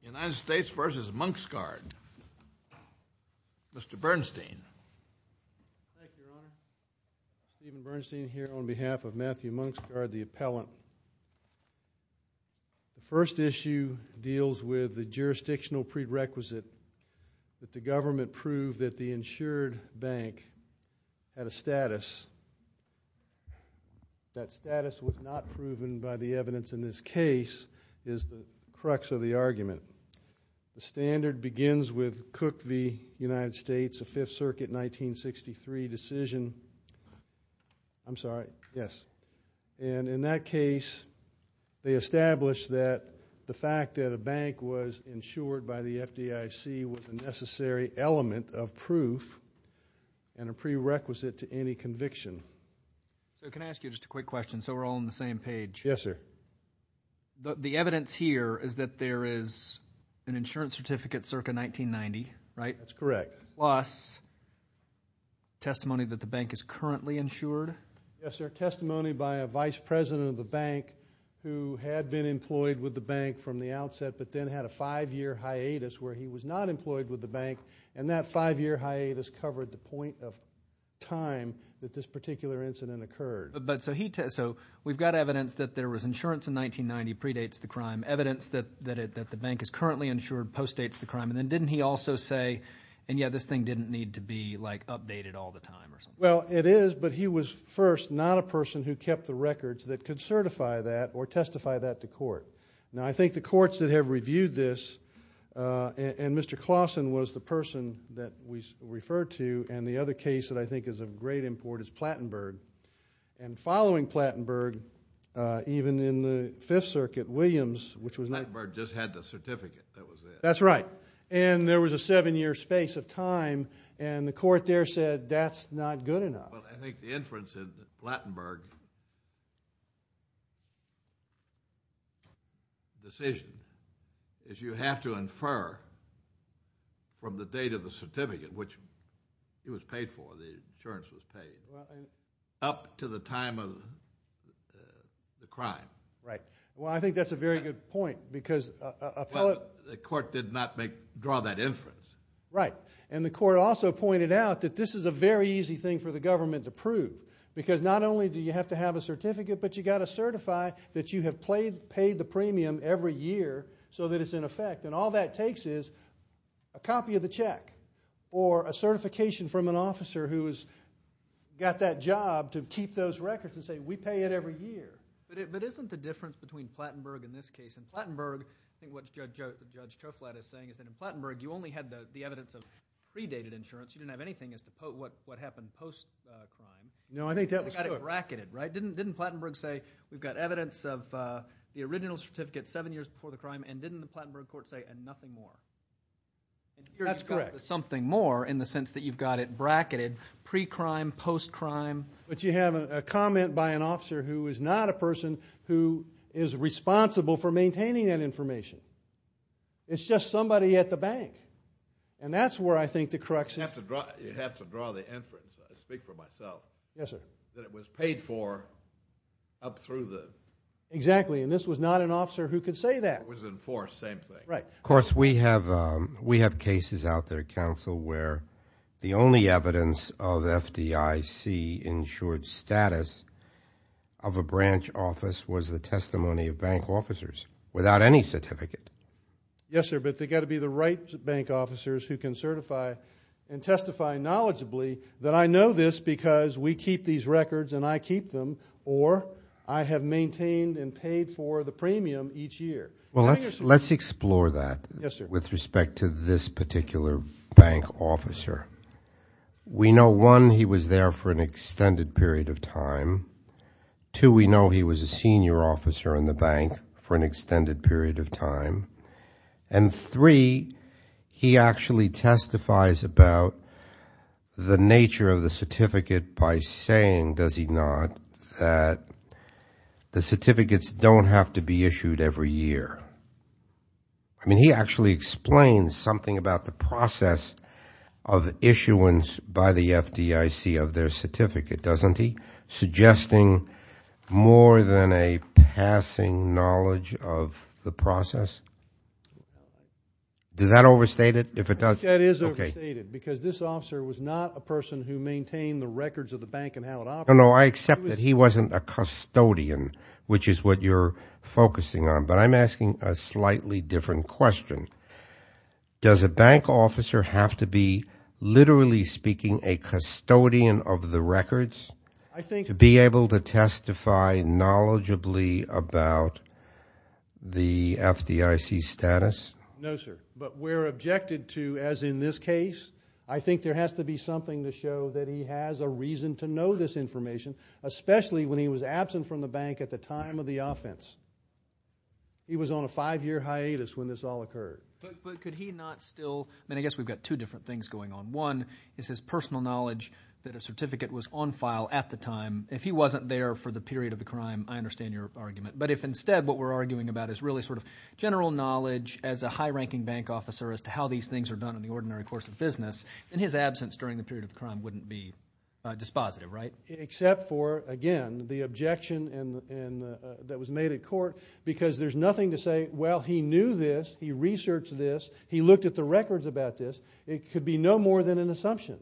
The United States v. Munksgard. Mr. Bernstein. Thank you, Your Honor. Stephen Bernstein here on behalf of Matthew Munksgard, the appellant. The first issue deals with the jurisdictional prerequisite that the government prove that the insured bank had a status. That status was not proven by the evidence in this case is the crux of the argument. The standard begins with Cook v. United States, the Fifth Circuit, 1963 decision. I'm sorry. Yes. And in that case, they establish that the fact that a bank was insured by the FDIC was a necessary element of proof and a prerequisite to any conviction. So can I ask you just a quick question so we're all on the same page? Yes, sir. The evidence here is that there is an insurance certificate circa 1990, right? That's correct. Plus testimony that the bank is currently insured? Yes, sir. Testimony by a vice president of the bank who had been employed with the bank from the outset but then had a five-year hiatus where he was not employed with the bank, and that five-year hiatus covered the point of time that this particular incident occurred. So we've got evidence that there was insurance in 1990, predates the crime. Evidence that the bank is currently insured postdates the crime. And then didn't he also say, and yet this thing didn't need to be updated all the time? Well, it is, but he was first not a person who kept the records that could certify that or testify that to court. Now I think the courts that have reviewed this, and Mr. Clausen was the person that we referred to, and the other case that I think is of great import is Plattenberg. And following Plattenberg, even in the Fifth Circuit, Williams, which was not- Plattenberg just had the certificate that was there. That's right. And there was a seven-year space of time, and the court there said that's not good enough. Well, I think the inference in Plattenberg's decision is you have to infer from the date of the certificate, which he was paid for, the insurance was paid, up to the time of the crime. Right. Well, I think that's a very good point because- But the court did not draw that inference. Right. And the court also pointed out that this is a very easy thing for the government to prove because not only do you have to have a certificate, but you've got to certify that you have paid the premium every year so that it's in effect, and all that takes is a copy of the check or a certification from an officer who has got that job to keep those records and say, we pay it every year. But isn't the difference between Plattenberg in this case and Plattenberg, I think what Judge Toflat is saying is that in Plattenberg, you only had the evidence of predated insurance. You didn't have anything as to what happened post-crime. No, I think that was correct. You've got it bracketed, right? Didn't Plattenberg say, we've got evidence of the original certificate seven years before the crime, and didn't the Plattenberg court say, and nothing more? That's correct. Here you've got the something more in the sense that you've got it bracketed pre-crime, post-crime. But you have a comment by an officer who is not a person who is responsible for maintaining that information. It's just somebody at the bank, and that's where I think the correction is. You have to draw the inference. I speak for myself. Yes, sir. That it was paid for up through the... Exactly, and this was not an officer who could say that. It was enforced, same thing. Right. Of course, we have cases out there, counsel, where the only evidence of FDIC insured status of a branch office was the testimony of bank officers without any certificate. Yes, sir, but they've got to be the right bank officers who can certify and testify knowledgeably that I know this because we keep these records and I keep them, or I have maintained and paid for the premium each year. Well, let's explore that with respect to this particular bank officer. We know, one, he was there for an extended period of time. Two, we know he was a senior officer in the bank for an extended period of time. And three, he actually testifies about the nature of the certificate by saying, does he not, that the certificates don't have to be issued every year? I mean, he actually explains something about the process of issuance by the FDIC of their certificate, doesn't he? Suggesting more than a passing knowledge of the process. Does that overstate it? If it does, okay. That is overstated because this officer was not a person who maintained the records of the bank and how it operated. No, no, I accept that he wasn't a custodian, which is what you're focusing on, but I'm asking a slightly different question. Does a bank officer have to be, literally speaking, a custodian of the records to be able to testify knowledgeably about the FDIC status? No, sir. But we're objected to, as in this case, I think there has to be something to show that he has a reason to know this information, especially when he was absent from the bank at the time of the offense. He was on a five-year hiatus when this all occurred. But could he not still, I mean, I guess we've got two different things going on. One is his personal knowledge that a certificate was on file at the time. If he wasn't there for the period of the crime, I understand your argument. But if instead what we're arguing about is really sort of general knowledge as a high-ranking bank officer as to how these things are done in the ordinary course of business, then his absence during the period of the crime wouldn't be dispositive, right? Except for, again, the objection that was made at court because there's nothing to say, well, he knew this, he researched this, he looked at the records about this. It could be no more than an assumption,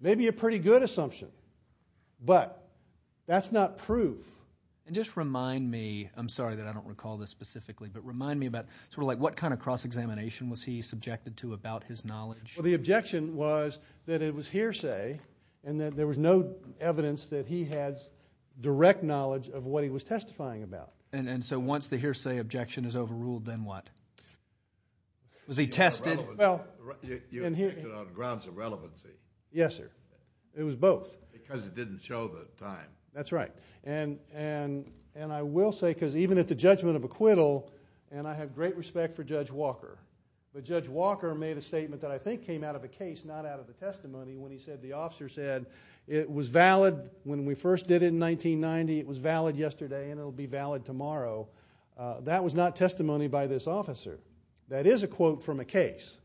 maybe a pretty good assumption, but that's not proof. And just remind me, I'm sorry that I don't recall this specifically, but remind me about sort of like what kind of cross-examination was he subjected to about his knowledge? Well, the objection was that it was hearsay, and that there was no evidence that he had direct knowledge of what he was testifying about. And so once the hearsay objection is overruled, then what? Was he tested? You objected on grounds of relevancy. Yes, sir. It was both. Because you didn't show the time. That's right. And I will say, because even at the judgment of acquittal, and I have great respect for Judge Walker, but Judge Walker made a statement that I think came out of a case, not out of a testimony, when he said the officer said it was valid when we first did it in 1990, it was valid yesterday, and it'll be valid tomorrow. That was not testimony by this officer. That is a quote from a case.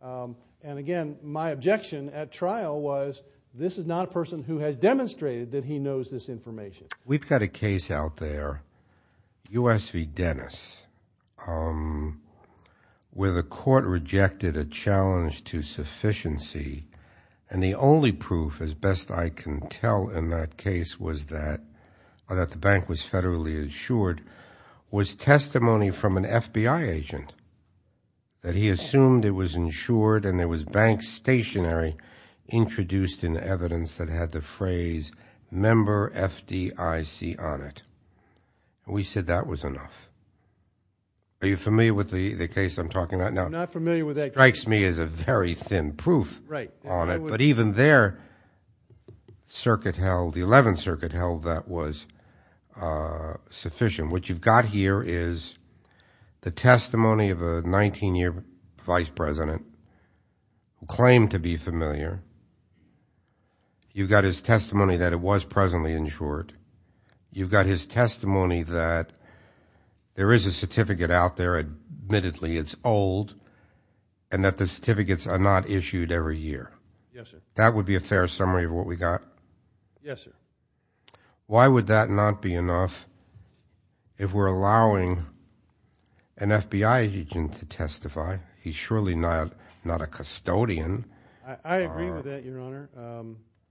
And again, my objection at trial was, this is not a person who has demonstrated that he knows this information. We've got a case out there, U.S. v. Dennis, where the court rejected a challenge to sufficiency, and the only proof, as best I can tell in that case, was that the bank was federally insured, was testimony from an FBI agent. That he assumed it was insured and there was bank stationary introduced in evidence that had the phrase member FDIC on it. And we said that was enough. Are you familiar with the case I'm talking about now? I'm not familiar with that case. Strikes me as a very thin proof on it. Right. But even there, the 11th Circuit held that was sufficient. What you've got here is the testimony of a 19-year vice president who claimed to be familiar. You've got his testimony that it was presently insured. You've got his testimony that there is a certificate out there, admittedly it's old, and that the certificates are not issued every year. Yes, sir. That would be a fair summary of what we got? Yes, sir. Why would that not be enough if we're allowing an FBI agent to testify? He's surely not a custodian. I agree with that, Your Honor.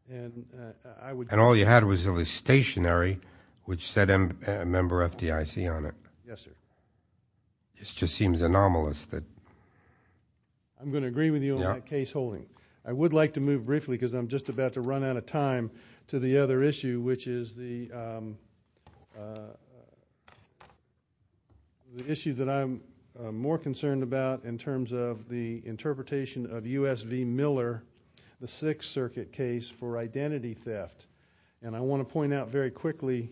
And all you had was the stationary which said member FDIC on it. Yes, sir. This just seems anomalous. I'm going to agree with you on that case holding. I would like to move briefly, because I'm just about to run out of time, to the other issue, which is the issue that I'm more concerned about in terms of the interpretation of U.S. v. Miller, the 6th Circuit case for identity theft. I want to point out very quickly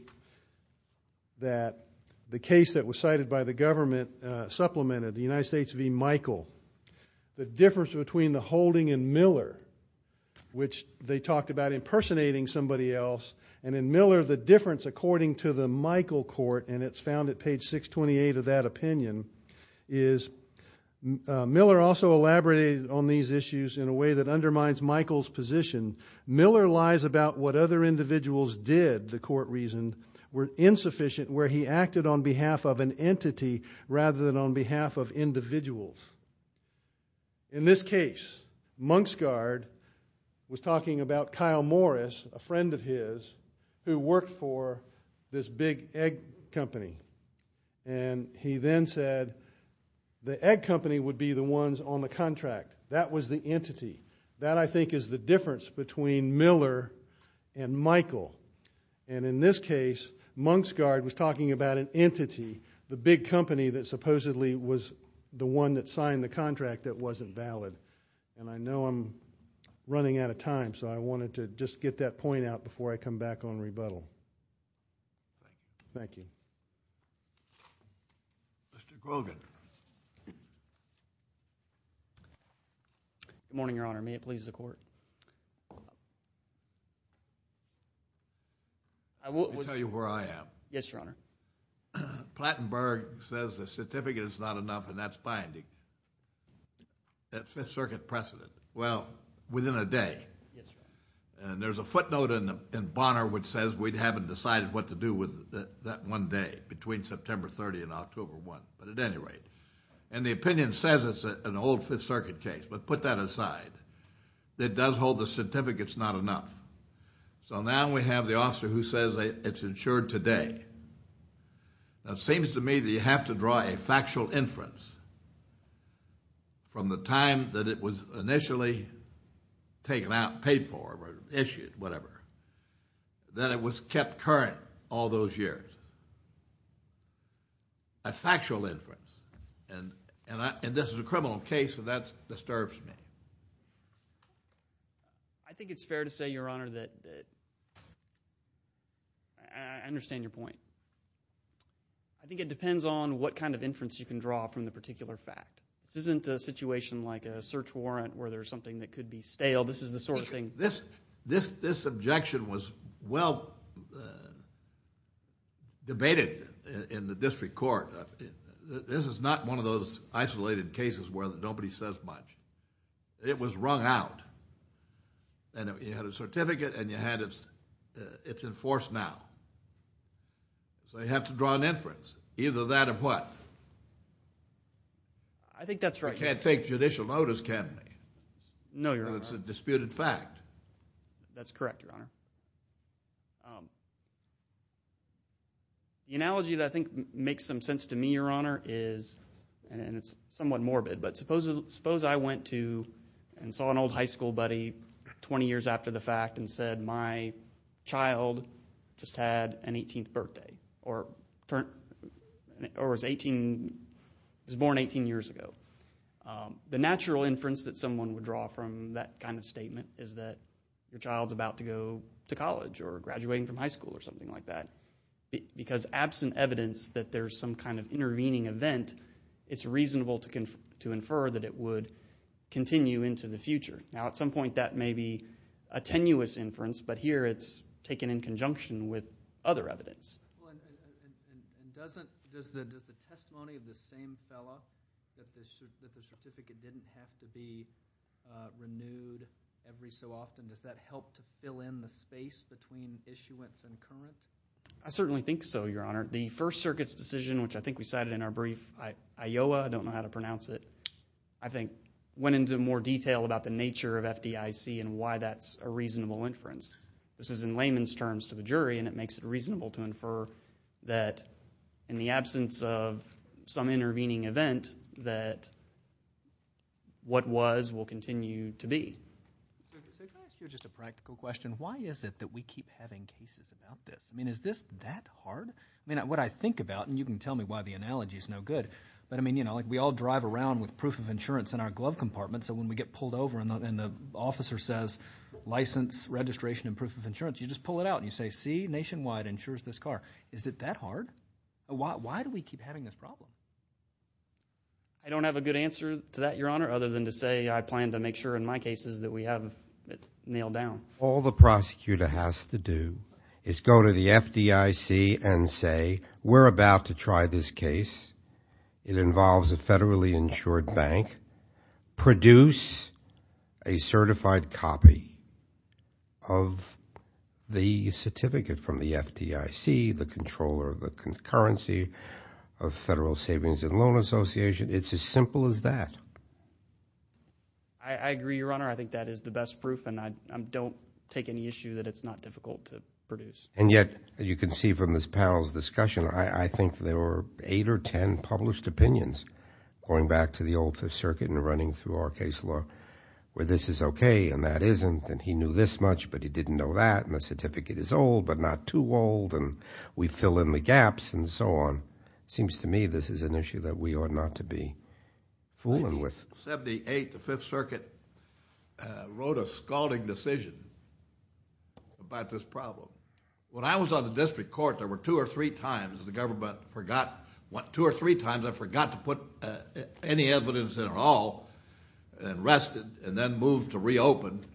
that the case that was cited by the government supplemented the United States v. Michael. The difference between the holding in Miller, which they talked about impersonating somebody else, and in Miller the difference according to the Michael court, and it's found at page 628 of that opinion, is Miller also elaborated on these issues in a way that undermines Michael's position. Miller lies about what other individuals did, the court reasoned, were insufficient where he acted on behalf of an entity rather than on behalf of individuals. In this case, Monksguard was talking about Kyle Morris, a friend of his, who worked for this big egg company, and he then said the egg company would be the ones on the contract. That was the entity. That, I think, is the difference between Miller and Michael, and in this case Monksguard was talking about an entity, the big company that supposedly was the one that signed the contract that wasn't valid. I know I'm running out of time, so I wanted to just get that point out before I come back on rebuttal. Thank you. Mr. Grogan. Good morning, Your Honor. May it please the Court? I will tell you where I am. Yes, Your Honor. Plattenberg says the certificate is not enough, and that's binding. That's Fifth Circuit precedent. Well, within a day. And there's a footnote in Bonner which says we haven't decided what to do with that one day, between September 30 and October 1, but at any rate. And the opinion says it's an old Fifth Circuit case, but put that aside. It does hold the certificate's not enough. So now we have the officer who says it's insured today. Now it seems to me that you have to draw a factual inference from the time that it was initially taken out, paid for, issued, whatever, that it was kept current all those years. A factual inference. And this is a criminal case, so that disturbs me. I think it's fair to say, Your Honor, that I understand your point. I think it depends on what kind of inference you can draw from the particular fact. This isn't a situation like a search warrant where there's something that could be stale. This is the sort of thing. This objection was well debated in the district court. This is not one of those isolated cases where nobody says much. It was wrung out. And you had a certificate, and it's enforced now. So you have to draw an inference, either that or what? I think that's right. You can't take judicial notice, can you? No, Your Honor. It's a disputed fact. That's correct, Your Honor. The analogy that I think makes some sense to me, Your Honor, is, and it's somewhat morbid, but suppose I went to and saw an old high school buddy 20 years after the fact and said, My child just had an 18th birthday, or was born 18 years ago. The natural inference that someone would draw from that kind of statement is that your child's about to go to college or graduating from high school or something like that. Because absent evidence that there's some kind of intervening event, it's reasonable to infer that it would continue into the future. Now, at some point that may be a tenuous inference, but here it's taken in conjunction with other evidence. And does the testimony of the same fellow that the certificate didn't have to be renewed every so often, does that help to fill in the space between issuance and current? I certainly think so, Your Honor. The First Circuit's decision, which I think we cited in our brief, IOWA, I don't know how to pronounce it, I think went into more detail about the nature of FDIC and why that's a reasonable inference. This is in layman's terms to the jury, and it makes it reasonable to infer that in the absence of some intervening event that what was will continue to be. If I could ask you just a practical question, why is it that we keep having cases about this? I mean, is this that hard? I mean, what I think about, and you can tell me why the analogy is no good, but I mean, you know, like we all drive around with proof of insurance in our glove compartments, so when we get pulled over and the officer says, license, registration, and proof of insurance, you just pull it out and you say, see, Nationwide insures this car. Is it that hard? Why do we keep having this problem? I don't have a good answer to that, Your Honor, other than to say I plan to make sure in my cases that we have it nailed down. All the prosecutor has to do is go to the FDIC and say, we're about to try this case. It involves a federally insured bank. Produce a certified copy of the certificate from the FDIC, the controller of the concurrency of Federal Savings and Loan Association. It's as simple as that. I agree, Your Honor. I think that is the best proof, and I don't take any issue that it's not difficult to produce. And yet, you can see from this panel's discussion, I think there were eight or ten published opinions going back to the old Fifth Circuit and running through our case law where this is okay and that isn't, and he knew this much but he didn't know that, and the certificate is old but not too old, and we fill in the gaps and so on. It seems to me this is an issue that we ought not to be fooling with. In 1978, the Fifth Circuit wrote a scalding decision about this problem. When I was on the district court, there were two or three times the government forgot, two or three times I forgot to put any evidence at all and rested and then moved to reopen.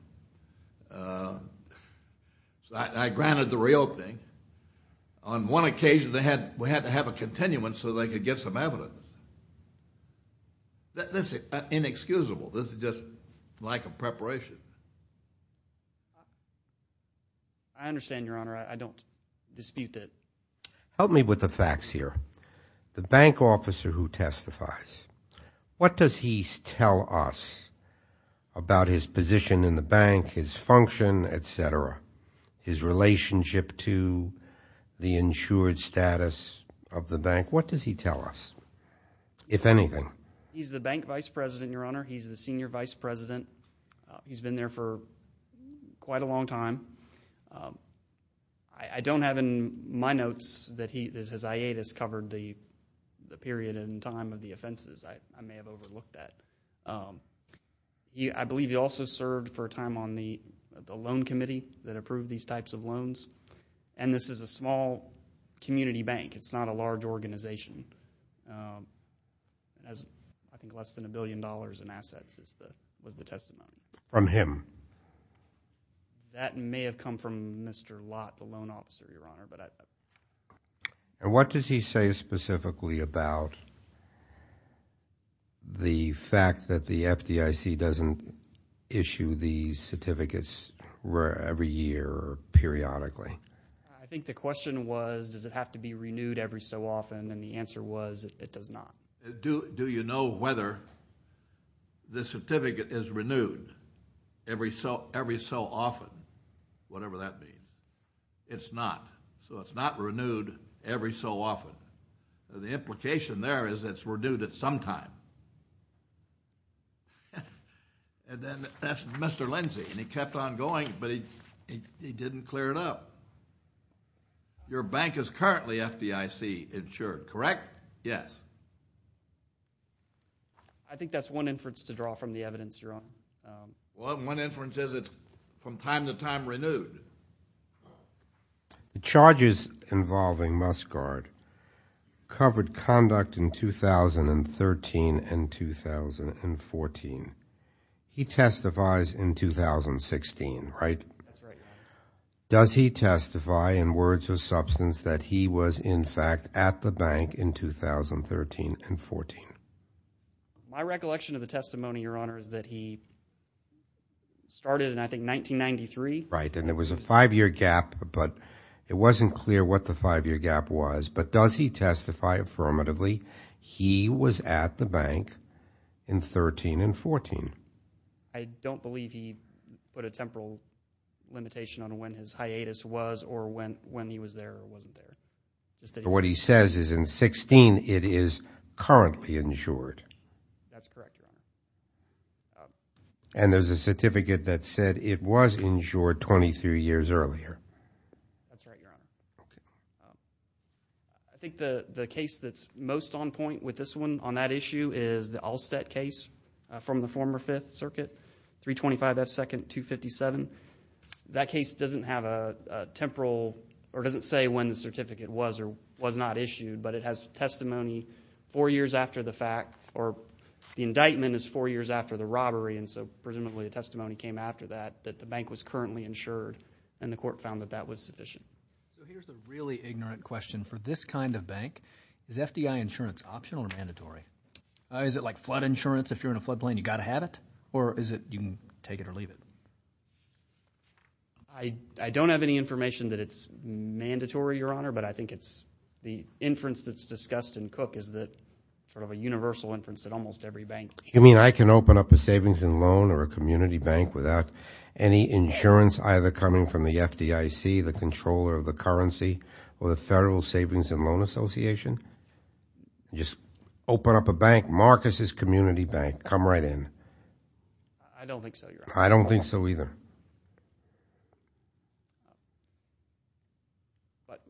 I granted the reopening. On one occasion, we had to have a continuance so they could get some evidence. That's inexcusable. This is just lack of preparation. I understand, Your Honor. I don't dispute that. Help me with the facts here. The bank officer who testifies, what does he tell us about his position in the bank, his function, et cetera, his relationship to the insured status of the bank? What does he tell us, if anything? He's the bank vice president, Your Honor. He's the senior vice president. He's been there for quite a long time. I don't have in my notes that his hiatus covered the period and time of the offenses. I may have overlooked that. I believe he also served for a time on the loan committee that approved these types of loans. This is a small community bank. It's not a large organization. I think less than a billion dollars in assets was the testimony. From him? That may have come from Mr. Lott, the loan officer, Your Honor. What does he say specifically about the fact that the FDIC doesn't issue these certificates every year or periodically? I think the question was does it have to be renewed every so often, and the answer was it does not. Do you know whether the certificate is renewed every so often, whatever that means? It's not, so it's not renewed every so often. The implication there is it's renewed at some time. Then that's Mr. Lindsey, and he kept on going, but he didn't clear it up. Your bank is currently FDIC insured, correct? Yes. I think that's one inference to draw from the evidence, Your Honor. Well, one inference is it's from time to time renewed. The charges involving Muscard covered conduct in 2013 and 2014. He testifies in 2016, right? That's right, Your Honor. Does he testify in words or substance that he was in fact at the bank in 2013 and 14? My recollection of the testimony, Your Honor, is that he started in, I think, 1993. Right, and there was a five-year gap, but it wasn't clear what the five-year gap was. But does he testify affirmatively he was at the bank in 13 and 14? I don't believe he put a temporal limitation on when his hiatus was or when he was there or wasn't there. What he says is in 16 it is currently insured. That's correct, Your Honor. And there's a certificate that said it was insured 23 years earlier. That's right, Your Honor. I think the case that's most on point with this one on that issue is the Allstat case from the former Fifth Circuit, 325 F. 2nd. 257. That case doesn't have a temporal or doesn't say when the certificate was or was not issued, but it has testimony four years after the fact, or the indictment is four years after the robbery, and so presumably a testimony came after that that the bank was currently insured, and the court found that that was sufficient. Here's a really ignorant question. For this kind of bank, is FDI insurance optional or mandatory? Is it like flood insurance if you're in a floodplain? Or is it you can take it or leave it? I don't have any information that it's mandatory, Your Honor, but I think it's the inference that's discussed in Cook is that sort of a universal inference that almost every bank. You mean I can open up a savings and loan or a community bank without any insurance either coming from the FDIC, the controller of the currency, or the Federal Savings and Loan Association? Just open up a bank, mark as his community bank, come right in. I don't think so, Your Honor. I don't think so either. But,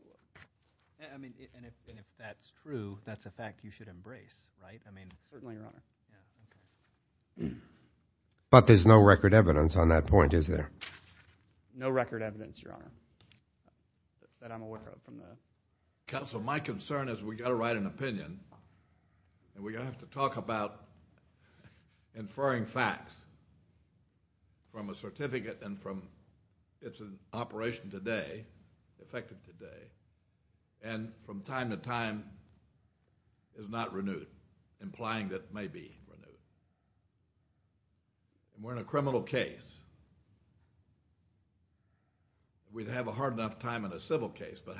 I mean, and if that's true, that's a fact you should embrace, right? I mean, certainly, Your Honor. But there's no record evidence on that point, is there? No record evidence, Your Honor, that I'm aware of from that. Counsel, my concern is we've got to write an opinion, and we have to talk about inferring facts from a certificate and from its operation today, effective today, and from time to time is not renewed, implying that it may be renewed. We're in a criminal case. We'd have a hard enough time in a civil case, but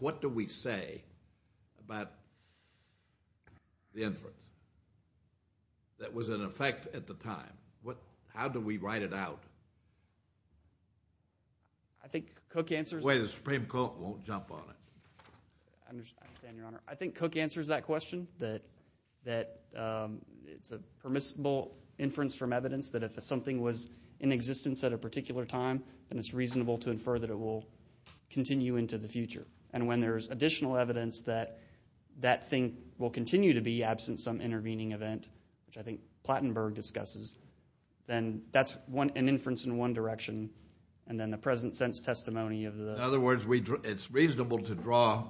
what do we say about the inference that was in effect at the time? How do we write it out? I think Cook answers— Wait, the Supreme Court won't jump on it. I understand, Your Honor. I think Cook answers that question, that it's a permissible inference from evidence that if something was in existence at a particular time, then it's reasonable to infer that it will continue into the future. And when there's additional evidence that that thing will continue to be absent some intervening event, which I think Plattenberg discusses, then that's an inference in one direction, and then the present sense testimony of the— In other words, it's reasonable to draw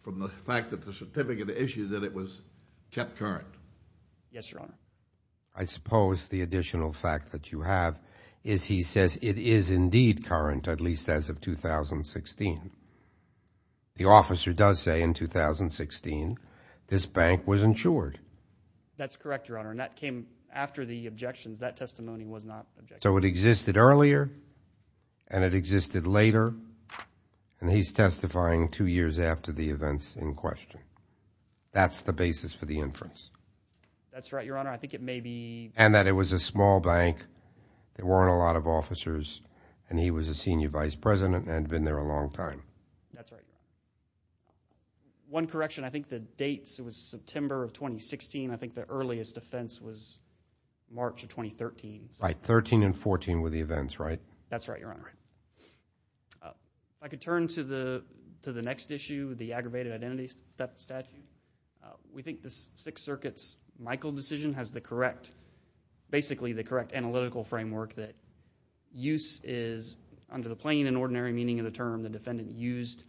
from the fact that the certificate issued that it was kept current. Yes, Your Honor. I suppose the additional fact that you have is he says it is indeed current, at least as of 2016. The officer does say in 2016 this bank was insured. That's correct, Your Honor, and that came after the objections. That testimony was not— So it existed earlier and it existed later, and he's testifying two years after the events in question. That's the basis for the inference. That's right, Your Honor. I think it may be— And that it was a small bank, there weren't a lot of officers, and he was a senior vice president and had been there a long time. That's right. One correction, I think the dates, it was September of 2016. I think the earliest defense was March of 2013. Right, 13 and 14 were the events, right? That's right, Your Honor. If I could turn to the next issue, the aggravated identity statute. We think the Sixth Circuit's Michael decision has basically the correct analytical framework that use is under the plain and ordinary meaning of the term the defendant used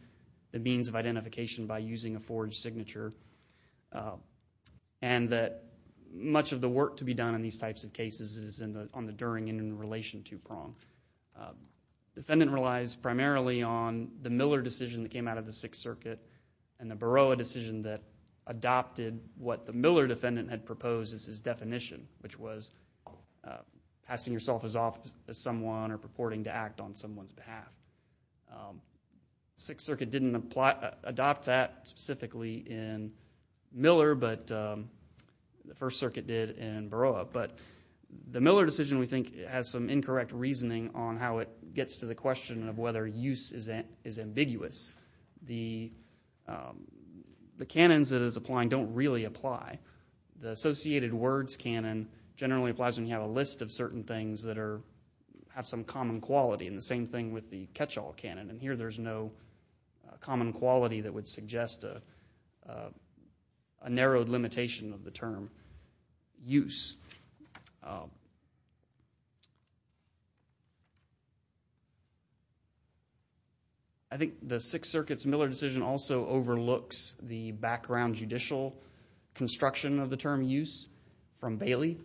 the means of identification by using a forged signature and that much of the work to be done in these types of cases is on the during and in relation to prong. The defendant relies primarily on the Miller decision that came out of the Sixth Circuit and the Baroa decision that adopted what the Miller defendant had proposed as his definition, which was passing yourself off as someone or purporting to act on someone's behalf. The Sixth Circuit didn't adopt that specifically in Miller, but the First Circuit did in Baroa. But the Miller decision, we think, has some incorrect reasoning on how it gets to the question of whether use is ambiguous. The canons that it's applying don't really apply. The associated words canon generally applies when you have a list of certain things that have some common quality and the same thing with the catch-all canon, and here there's no common quality that would suggest a narrowed limitation of the term use. I think the Sixth Circuit's Miller decision also overlooks the background judicial construction of the term use from Bailey.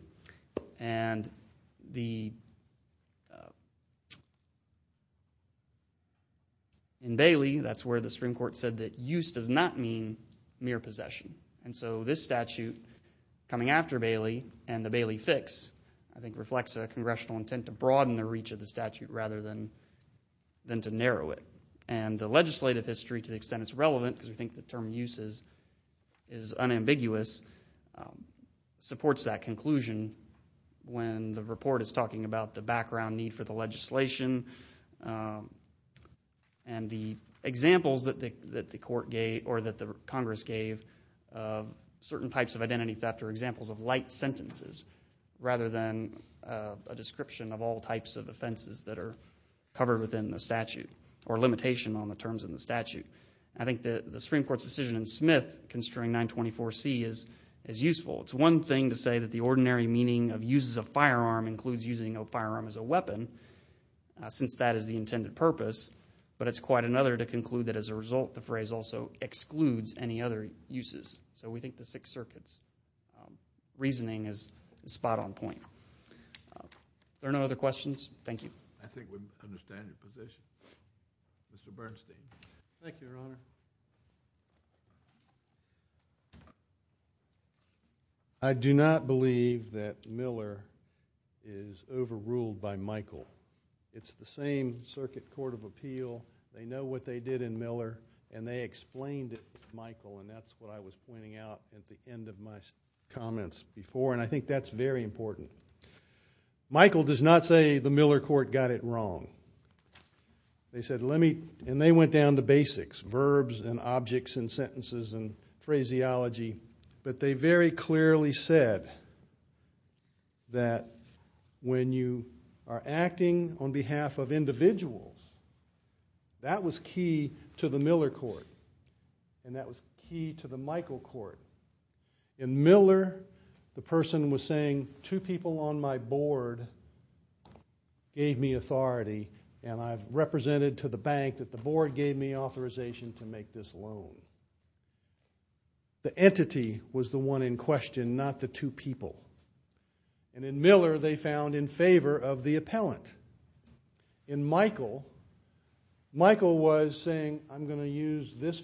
In Bailey, that's where the Supreme Court said that use does not mean mere possession. So this statute, coming after Bailey and the Bailey fix, I think reflects a congressional intent to broaden the reach of the statute rather than to narrow it. The legislative history, to the extent it's relevant because we think the term use is unambiguous, supports that conclusion when the report is talking about the background need for the legislation and the examples that the Congress gave of certain types of identity theft are examples of light sentences rather than a description of all types of offenses that are covered within the statute or limitation on the terms of the statute. I think the Supreme Court's decision in Smith, considering 924C, is useful. It's one thing to say that the ordinary meaning of use as a firearm includes using a firearm as a weapon. Since that is the intended purpose. But it's quite another to conclude that as a result the phrase also excludes any other uses. So we think the Sixth Circuit's reasoning is spot on point. Are there no other questions? Thank you. I think we understand your position. Mr. Bernstein. Thank you, Your Honor. I do not believe that Miller is overruled by Michael. It's the same Circuit Court of Appeal. They know what they did in Miller and they explained it to Michael and that's what I was pointing out at the end of my comments before. And I think that's very important. Michael does not say the Miller court got it wrong. And they went down to basics. Verbs and objects and sentences and phraseology. But they very clearly said that when you are acting on behalf of individuals, that was key to the Miller court. And that was key to the Michael court. In Miller, the person was saying two people on my board gave me authority and I've represented to the bank that the board gave me authorization to make this loan. The entity was the one in question, not the two people. And in Miller, they found in favor of the appellant. In Michael, Michael was saying I'm going to use this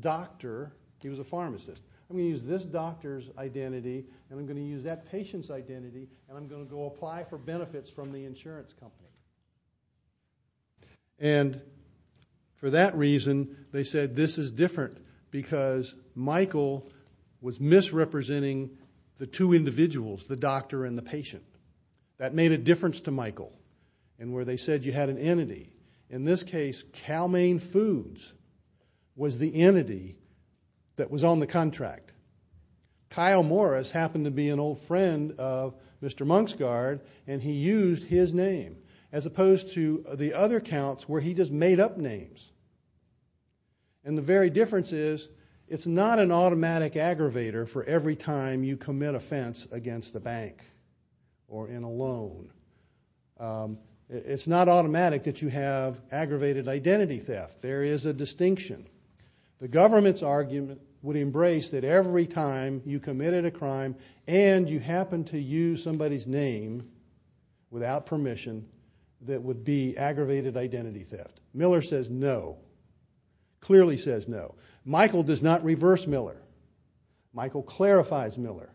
doctor. He was a pharmacist. I'm going to use this doctor's identity and I'm going to use that patient's identity and I'm going to go apply for benefits from the insurance company. And for that reason, they said this is different because Michael was misrepresenting the two individuals, the doctor and the patient. That made a difference to Michael in where they said you had an entity. In this case, Cal Main Foods was the entity that was on the contract. Kyle Morris happened to be an old friend of Mr. Monksguard and he used his name as opposed to the other counts where he just made up names. And the very difference is it's not an automatic aggravator for every time you commit offense against the bank or in a loan. It's not automatic that you have aggravated identity theft. There is a distinction. The government's argument would embrace that every time you committed a crime and you happened to use somebody's name without permission, that would be aggravated identity theft. Miller says no, clearly says no. Michael does not reverse Miller. Michael clarifies Miller.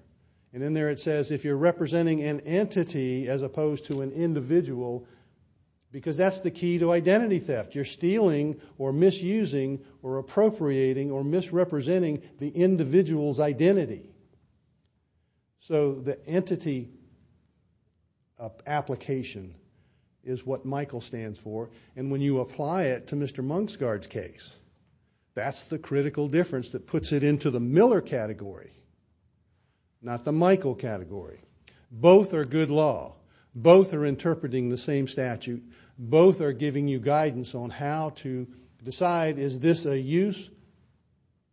And in there it says if you're representing an entity as opposed to an individual, because that's the key to identity theft. You're stealing or misusing or appropriating or misrepresenting the individual's identity. So the entity application is what Michael stands for. That's the critical difference that puts it into the Miller category, not the Michael category. Both are good law. Both are interpreting the same statute. Both are giving you guidance on how to decide is this a use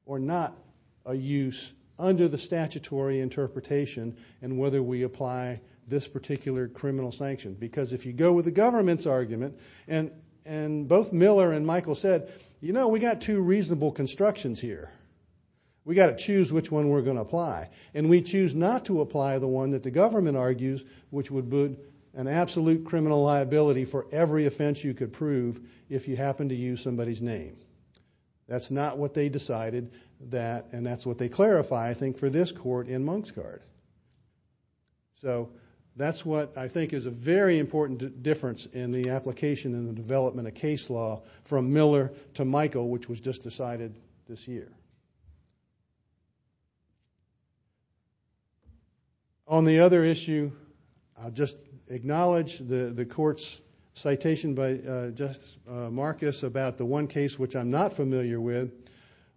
or not a use under the statutory interpretation and whether we apply this particular criminal sanction. Because if you go with the government's argument and both Miller and Michael said, you know, we've got two reasonable constructions here. We've got to choose which one we're going to apply. And we choose not to apply the one that the government argues which would be an absolute criminal liability for every offense you could prove if you happened to use somebody's name. That's not what they decided. And that's what they clarify, I think, for this court in Monksguard. So that's what I think is a very important difference in the application and the development of case law from Miller to Michael, which was just decided this year. On the other issue, I'll just acknowledge the court's citation by Justice Marcus about the one case which I'm not familiar with.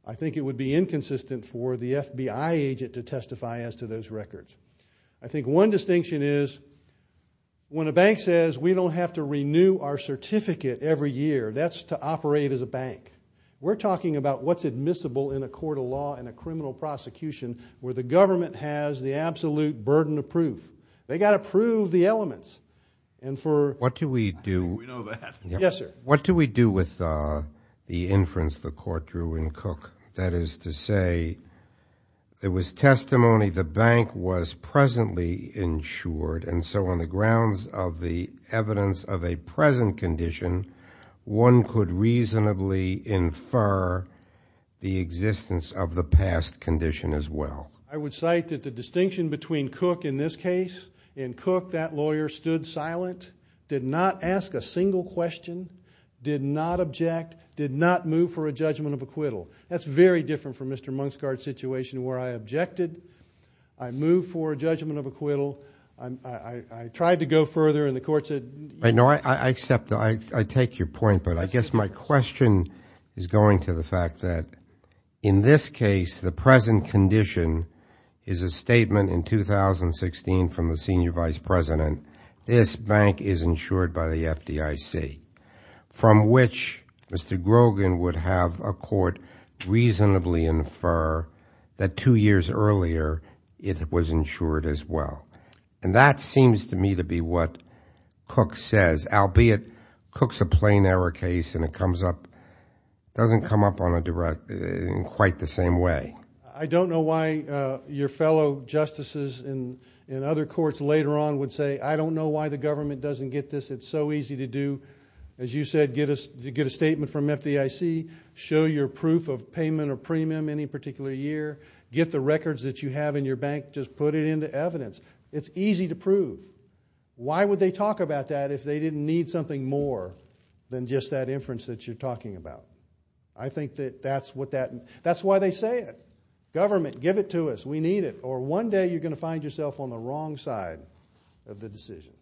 I think it would be inconsistent for the FBI agent to testify as to those records. I think one distinction is when a bank says we don't have to renew our certificate every year, that's to operate as a bank. We're talking about what's admissible in a court of law and a criminal prosecution where the government has the absolute burden of proof. They've got to prove the elements. What do we do with the inference the court drew in Cook? That is to say, there was testimony the bank was presently insured, and so on the grounds of the evidence of a present condition, one could reasonably infer the existence of the past condition as well. I would cite that the distinction between Cook in this case, in Cook that lawyer stood silent, did not ask a single question, did not object, did not move for a judgment of acquittal. That's very different from Mr. Munksgaard's situation where I objected, I moved for a judgment of acquittal, I tried to go further, and the court said no. I accept that. I take your point, but I guess my question is going to the fact that in this case, the present condition is a statement in 2016 from the senior vice president. This bank is insured by the FDIC, from which Mr. Grogan would have a court reasonably infer that two years earlier it was insured as well. And that seems to me to be what Cook says, albeit Cook's a plain error case and it doesn't come up in quite the same way. I don't know why your fellow justices in other courts later on would say, I don't know why the government doesn't get this. It's so easy to do. As you said, get a statement from FDIC, show your proof of payment or premium any particular year, get the records that you have in your bank, just put it into evidence. It's easy to prove. Why would they talk about that if they didn't need something more than just that inference that you're talking about? I think that that's why they say it. Government, give it to us, we need it, or one day you're going to find yourself on the wrong side of the decision.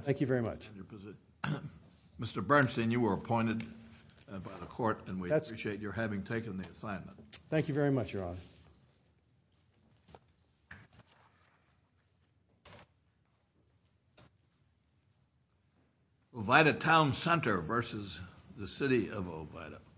Thank you very much. Mr. Bernstein, you were appointed by the court and we appreciate your having taken the assignment. Thank you very much, Your Honor.